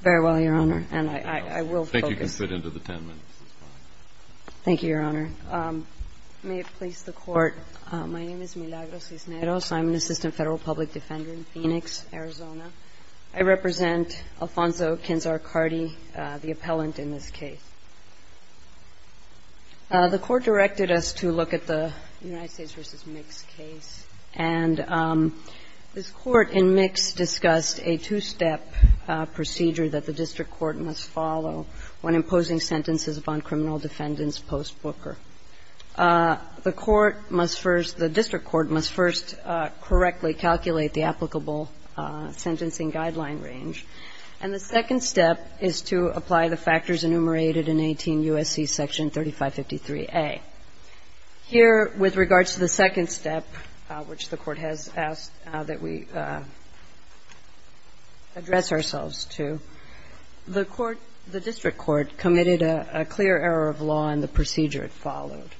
Very well, Your Honor, and I will focus. I think you can fit into the ten minutes. Thank you, Your Honor. May it please the Court, my name is Milagro Cisneros. I'm an assistant federal public defender in Phoenix, Arizona. I represent Alfonso Kinzar Carty, the appellant in this case. The Court directed us to look at the United States v. Mix case. And this Court in Mix discussed a two-step procedure that the district court must follow when imposing sentences upon criminal defendants post-Booker. The court must first, the district court must first correctly calculate the applicable sentencing guideline range. And the second step is to apply the factors enumerated in 18 U.S.C. section 3553A. Here, with regards to the second step, which the court has asked that we address ourselves to, the court, the district court committed a clear error of law in the procedure it followed.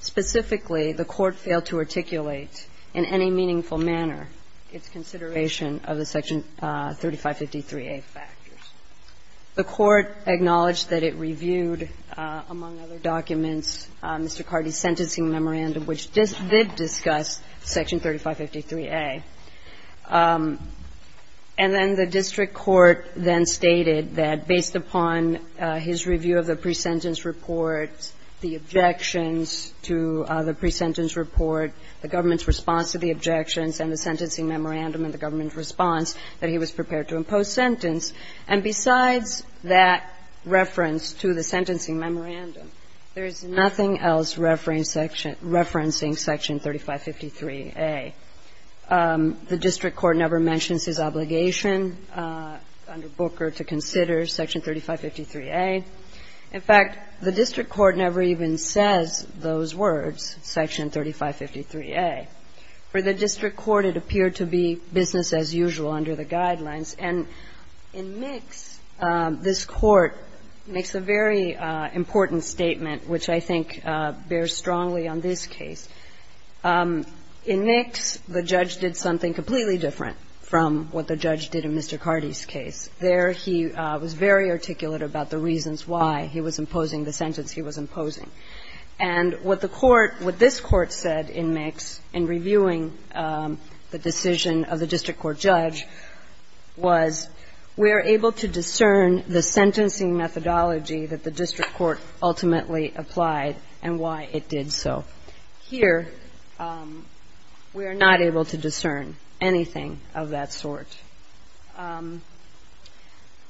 Specifically, the court failed to articulate in any meaningful manner its consideration of the section 3553A factors. The court acknowledged that it reviewed, among other documents, Mr. Carty's sentencing memorandum, which did discuss section 3553A. And then the district court then stated that based upon his review of the pre-sentence report, the objections to the pre-sentence report, the government's response to the objections and the sentencing memorandum and the government's response, that he was prepared to impose sentence. And besides that reference to the sentencing memorandum, there is nothing else referencing section 3553A. The district court never mentions his obligation under Booker to consider section 3553A. In fact, the district court never even says those words, section 3553A. For the district court, it appeared to be business as usual under the guidelines. And in Mix, this Court makes a very important statement, which I think bears strongly on this case. In Mix, the judge did something completely different from what the judge did in Mr. Carty's case. There, he was very articulate about the reasons why he was imposing the sentence he was imposing. And what the Court, what this Court said in Mix in reviewing the decision of the district court judge was, we are able to discern the sentencing methodology that the district court ultimately applied and why it did so. Here, we are not able to discern anything of that sort.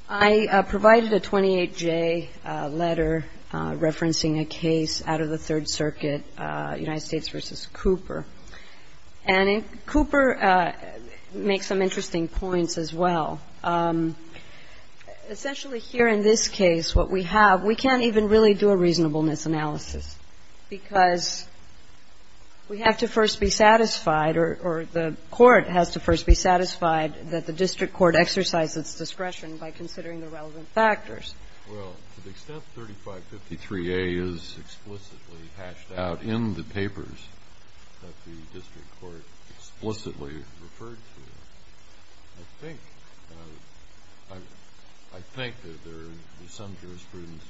I provided a 28J letter referencing a case out of the Third Circuit, United States v. Cooper. And Cooper makes some interesting points as well. Essentially, here in this case, what we have, we can't even really do a reasonableness analysis because we have to first be satisfied or the Court has to first be satisfied that the district court exercised its discretion by considering the relevant factors. Well, to the extent 3553A is explicitly hashed out in the papers that the district court explicitly referred to, I think that there are some jurisprudence,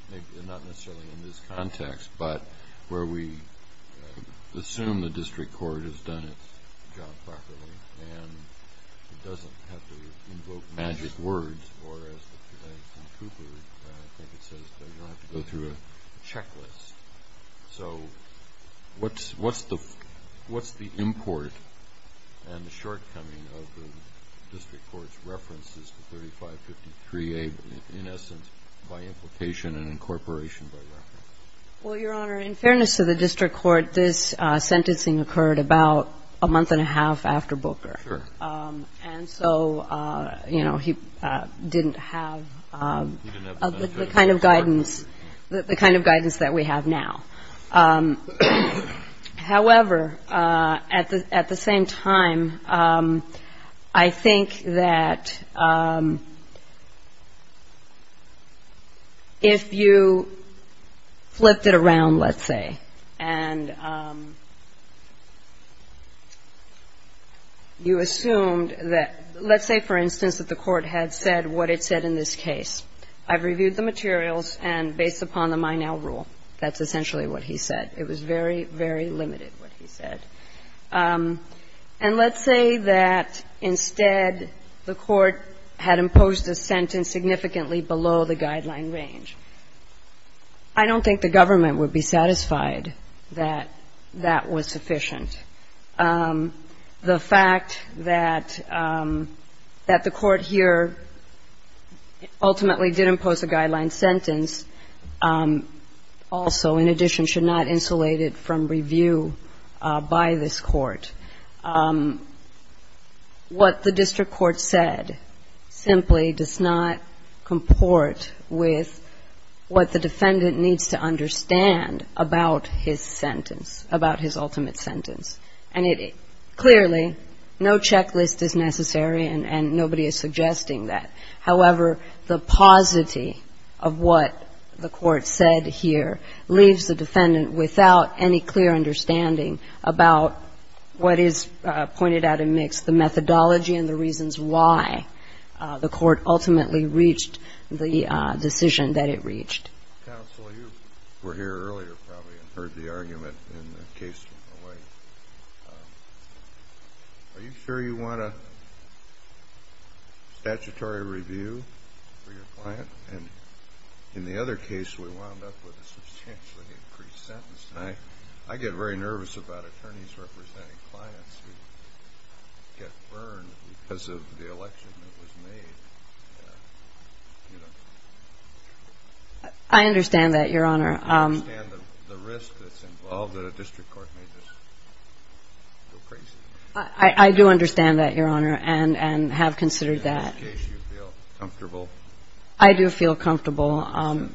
not necessarily in this context, but where we assume the district court has done its job properly and it doesn't have to invoke magic words or, as the defense in Cooper, I think it says that you don't have to go through a checklist. So what's the import and the shortcoming of the district court's references to 3553A in essence by implication and incorporation by reference? Well, Your Honor, in fairness to the district court, this sentencing occurred about a month and a half after Booker. And so, you know, he didn't have the kind of guidance that we have now. However, at the same time, I think that if you flipped it around, let's say, and you assumed that, let's say, for instance, that the Court had said what it said in this case, that it was very, very limited what he said. And let's say that, instead, the Court had imposed a sentence significantly below the guideline range. I don't think the government would be satisfied that that was sufficient. The fact that the Court here ultimately did impose a guideline sentence also, in addition, should not insulate it from review by this Court. What the district court said simply does not comport with what the defendant needs to understand about his sentence, about his ultimate sentence. And it clearly, no checklist is necessary, and nobody is suggesting that. However, the paucity of what the Court said here leaves the defendant without any clear understanding about what is pointed out in Mix, the methodology and the reasons why the Court ultimately reached the decision that it reached. Counsel, you were here earlier probably and heard the argument in the case from the White. Are you sure you want a statutory review for your client? And in the other case, we wound up with a substantially increased sentence. I get very nervous about attorneys representing clients who get burned because of the election that was made. I understand that, Your Honor. Do you understand the risk that's involved that a district court may just go crazy? I do understand that, Your Honor, and have considered that. In this case, do you feel comfortable? I do feel comfortable. Resentencing?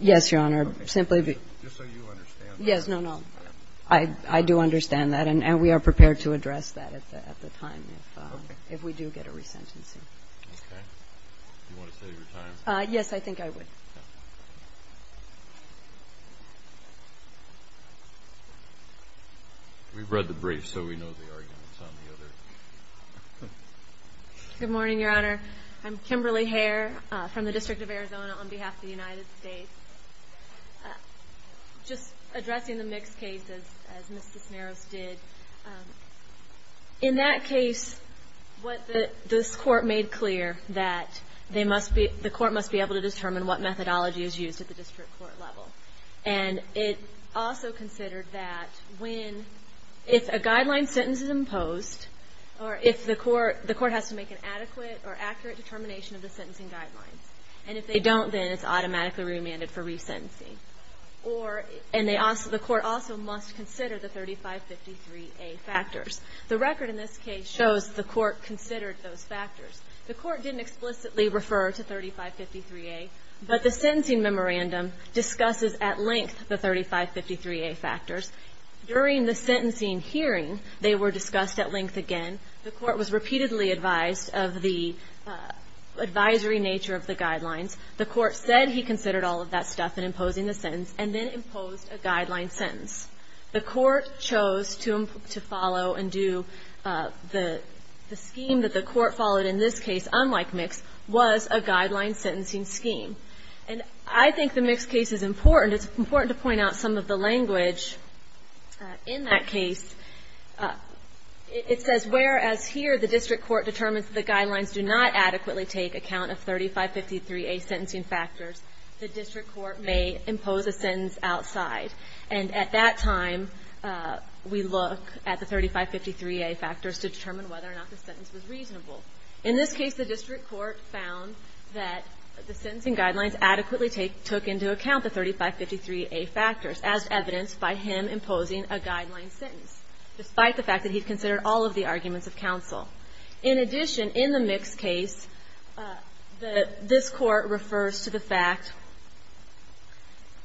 Yes, Your Honor. Just so you understand. Yes, no, no. I do understand that, and we are prepared to address that at the time if we do get a resentencing. Okay. Do you want to save your time? Yes, I think I would. Okay. We've read the brief, so we know the arguments on the other. Good morning, Your Honor. I'm Kimberly Hare from the District of Arizona on behalf of the United States. Just addressing the Mix case, as Ms. Desmarais did, in that case, what this court made clear that the court must be able to determine what methodology is used at the district court level, and it also considered that if a guideline sentence is imposed, or if the court has to make an adequate or accurate determination of the sentencing guidelines, and if they don't, then it's automatically remanded for resentencing. And the court also must consider the 3553A factors. The record in this case shows the court considered those factors. The court didn't explicitly refer to 3553A, but the sentencing memorandum discusses at length the 3553A factors. During the sentencing hearing, they were discussed at length again. The court was repeatedly advised of the advisory nature of the guidelines. The court said he considered all of that stuff in imposing the sentence, and then imposed a guideline sentence. The court chose to follow and do the scheme that the court followed in this case, unlike Mix, was a guideline sentencing scheme. And I think the Mix case is important. It's important to point out some of the language in that case. It says, whereas here the district court determines the guidelines do not adequately take account of 3553A sentencing factors, the district court may impose a sentence outside. And at that time, we look at the 3553A factors to determine whether or not the sentence was reasonable. In this case, the district court found that the sentencing guidelines adequately took into account the 3553A factors, as evidenced by him imposing a guideline sentence, despite the fact that he considered all of the arguments of counsel. In addition, in the Mix case, this court refers to the fact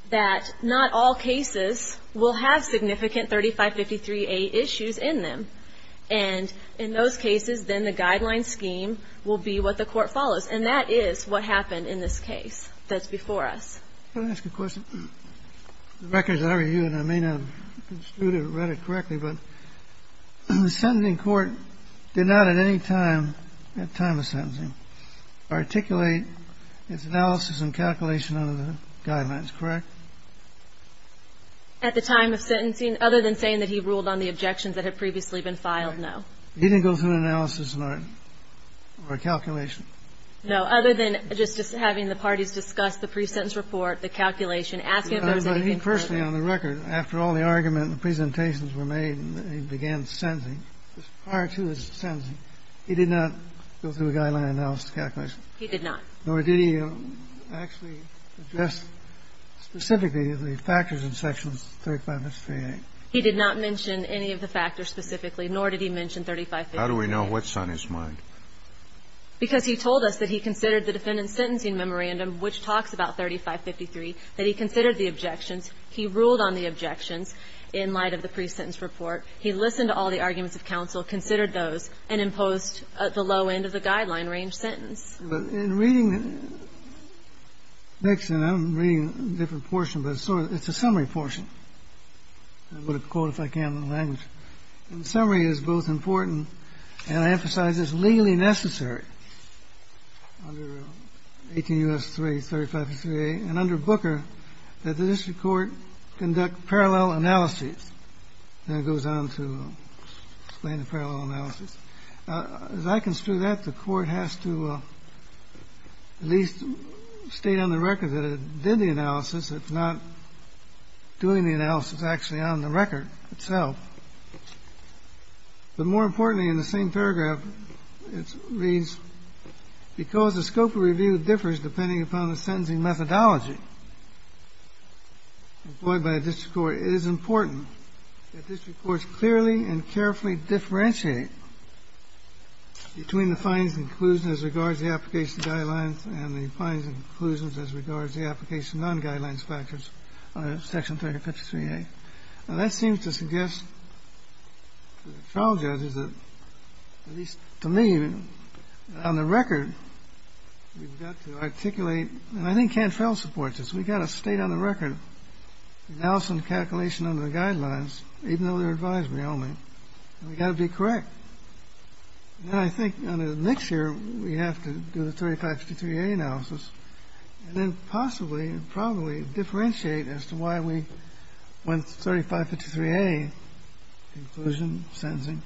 that not all cases will have significant 3553A issues in them. And in those cases, then the guideline scheme will be what the court follows. And that is what happened in this case that's before us. Can I ask a question? The records that I review, and I may not have construed or read it correctly, but the sentencing court did not at any time, at time of sentencing, articulate its analysis and calculation under the guidelines, correct? At the time of sentencing? Other than saying that he ruled on the objections that had previously been filed? No. He didn't go through an analysis or a calculation? No. Other than just having the parties discuss the pre-sentence report, the calculation, asking if there was anything further. But he personally, on the record, after all the argument and presentations were made and he began sentencing, prior to his sentencing, he did not go through a guideline analysis calculation? He did not. Nor did he actually address specifically the factors in Section 35-58? He did not mention any of the factors specifically, nor did he mention 35-58. How do we know what's on his mind? Because he told us that he considered the defendant's sentencing memorandum, which talks about 35-53, that he considered the objections. He ruled on the objections in light of the pre-sentence report. He listened to all the arguments of counsel, considered those, and imposed the low end of the guideline range sentence. But in reading the next thing, I'm reading a different portion. But it's a summary portion. I'm going to quote, if I can, the language. Summary is both important, and I emphasize it's legally necessary under 18 U.S. 3, 35-58, and under Booker, that the district court conduct parallel analyses. Then it goes on to explain the parallel analysis. As I construe that, the Court has to at least state on the record that it did the analysis, if not doing the analysis actually on the record itself. But more importantly, in the same paragraph, it reads, because the scope of review differs depending upon the sentencing methodology employed by a district court, it is important that district courts clearly and carefully differentiate between the findings and conclusions as regards the application of guidelines and the findings and conclusions as regards the application of non-guidelines factors under Section 353A. Now, that seems to suggest to the trial judges that, at least to me, on the record, we've got to articulate, and I think Cantrell supports this, we've got to state on the record that we have to do the calculation under the guidelines, even though they're advisory only, and we've got to be correct. And I think next year we have to do the 35-53A analysis and then possibly and probably differentiate as to why we went to 35-53A, conclusion, sentencing,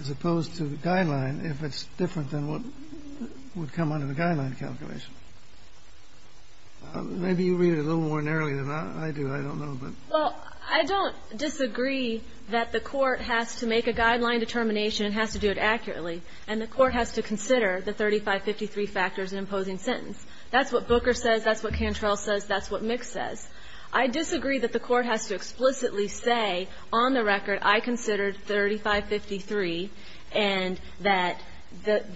as opposed to the guideline, if it's different than what would come under the guideline calculation. Maybe you read it a little more narrowly than I do. I don't know, but. Well, I don't disagree that the court has to make a guideline determination and has to do it accurately, and the court has to consider the 35-53 factors in imposing sentence. That's what Booker says. That's what Cantrell says. That's what Mick says. I disagree that the court has to explicitly say, on the record, I considered 35-53, and that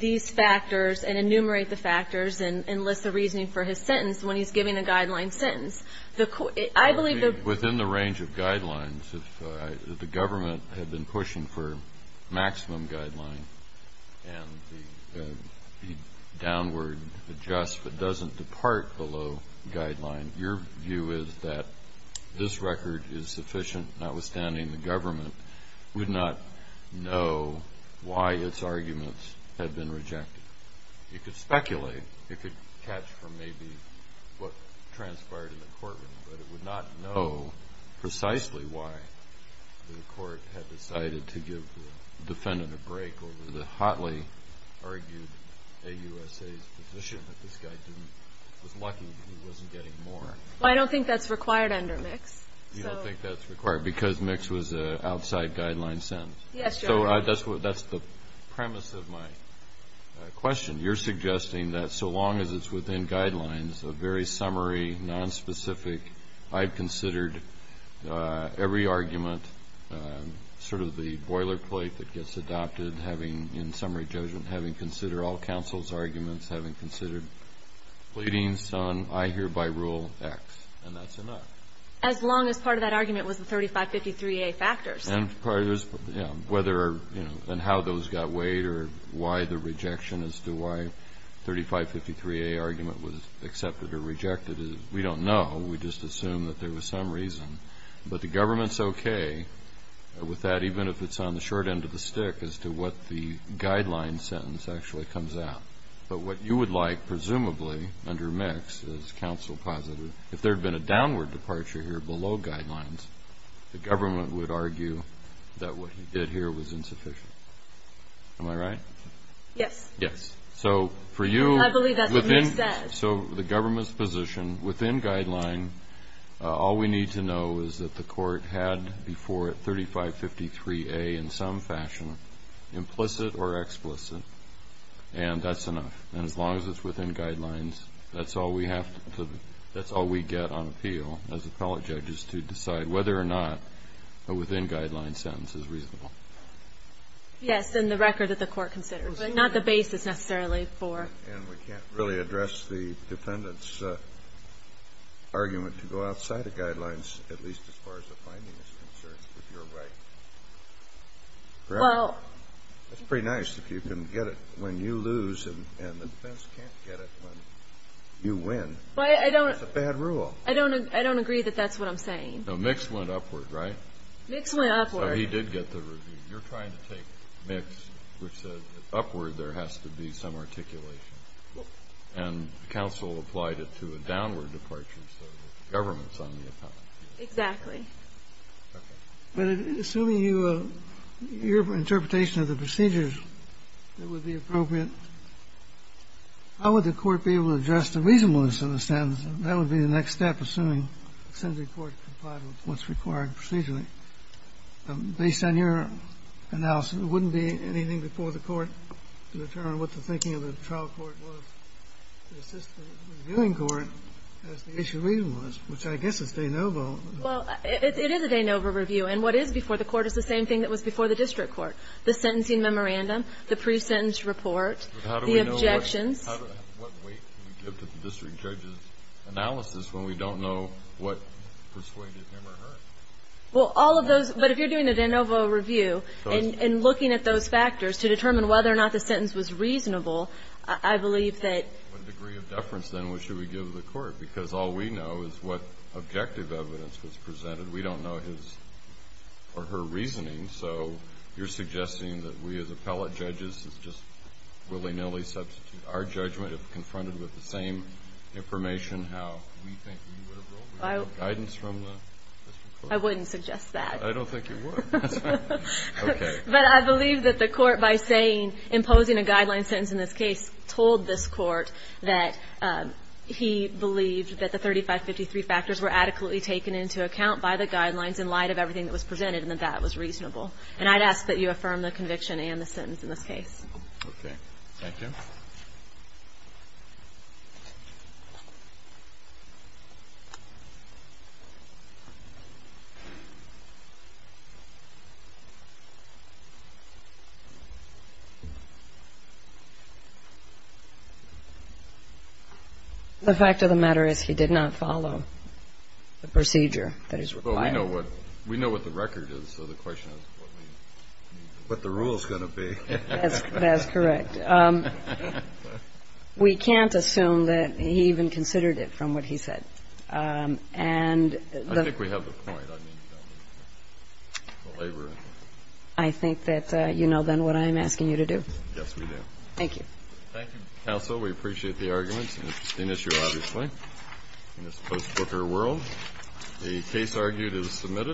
these factors, and enumerate the factors, and list the reasoning for his sentence when he's giving the guideline sentence. I believe that. Within the range of guidelines, if the government had been pushing for maximum guideline and the downward adjust but doesn't depart below guideline, your view is that this record is sufficient, notwithstanding the government would not know why its arguments had been rejected. You could speculate. You could catch from maybe what transpired in the courtroom, but it would not know precisely why the court had decided to give the defendant a break over the hotly argued AUSA's position that this guy was lucky because he wasn't getting more. Well, I don't think that's required under Mix. You don't think that's required because Mix was an outside guideline sentence. Yes, Your Honor. So that's the premise of my question. You're suggesting that so long as it's within guidelines, a very summary, nonspecific, I've considered every argument, sort of the boilerplate that gets adopted, having, in summary judgment, having considered all counsel's arguments, having considered all counsel's arguments, that the government is okay with that, even if it's on the short end of the stick as to what the guideline sentence actually comes out. But what you would like, presumably, under Mix, as counsel positive, is that the the guideline sentence actually comes out. If there had been a downward departure here below guidelines, the government would argue that what he did here was insufficient. Am I right? Yes. Yes. I believe that's what Mix said. So the government's position within guideline, all we need to know is that the court had before it 3553A in some fashion, implicit or explicit, and that's enough. And as long as it's within guidelines, that's all we have to, that's all we get on appeal as appellate judges to decide whether or not a within guidelines sentence is reasonable. Yes. In the record that the court considers. But not the basis necessarily for. And we can't really address the defendant's argument to go outside the guidelines, at least as far as the finding is concerned, if you're right. Well. It's pretty nice if you can get it when you lose and the defense can't get it when you win. But I don't. It's a bad rule. I don't agree that that's what I'm saying. No. Mix went upward, right? Mix went upward. So he did get the review. You're trying to take Mix, which said that upward there has to be some articulation. And counsel applied it to a downward departure, so the government's on the appellant. Exactly. Okay. Assuming your interpretation of the procedures that would be appropriate, how would the court be able to address the reasonableness of the sentence? That would be the next step, assuming the court complied with what's required procedurally. Based on your analysis, it wouldn't be anything before the court to determine what the thinking of the trial court was. It's just the reviewing court has the issue of reasonableness, which I guess is de novo. Well, it is a de novo review. And what is before the court is the same thing that was before the district court, the sentencing memorandum, the pre-sentence report, the objections. But how do we know what weight to give to the district judge's analysis when we don't know what persuaded him or her? Well, all of those. But if you're doing a de novo review and looking at those factors to determine whether or not the sentence was reasonable, I believe that ---- What degree of deference, then, should we give the court? Because all we know is what objective evidence was presented. We don't know his or her reasoning. So you're suggesting that we, as appellate judges, just willy-nilly substitute our judgment if confronted with the same information, how we think we would have ruled with the guidance from the district court? I wouldn't suggest that. I don't think you would. That's fine. Okay. But I believe that the court, by saying, imposing a guideline sentence in this case, told this court that he believed that the 3553 factors were adequately taken into account by the guidelines in light of everything that was presented and that that was reasonable. And I'd ask that you affirm the conviction and the sentence in this case. Okay. Thank you. The fact of the matter is he did not follow the procedure that is required. Well, we know what the record is, so the question is what the rule is going to be. That's correct. We can't assume that he even considered it from what he said. And the ---- I think we have the point. I mean, the labor ---- I think that you know, then, what I'm asking you to do. Yes, we do. Thank you. Thank you, counsel. We appreciate the arguments. It's an interesting issue, obviously, in this post-Booker world. The case argued is submitted.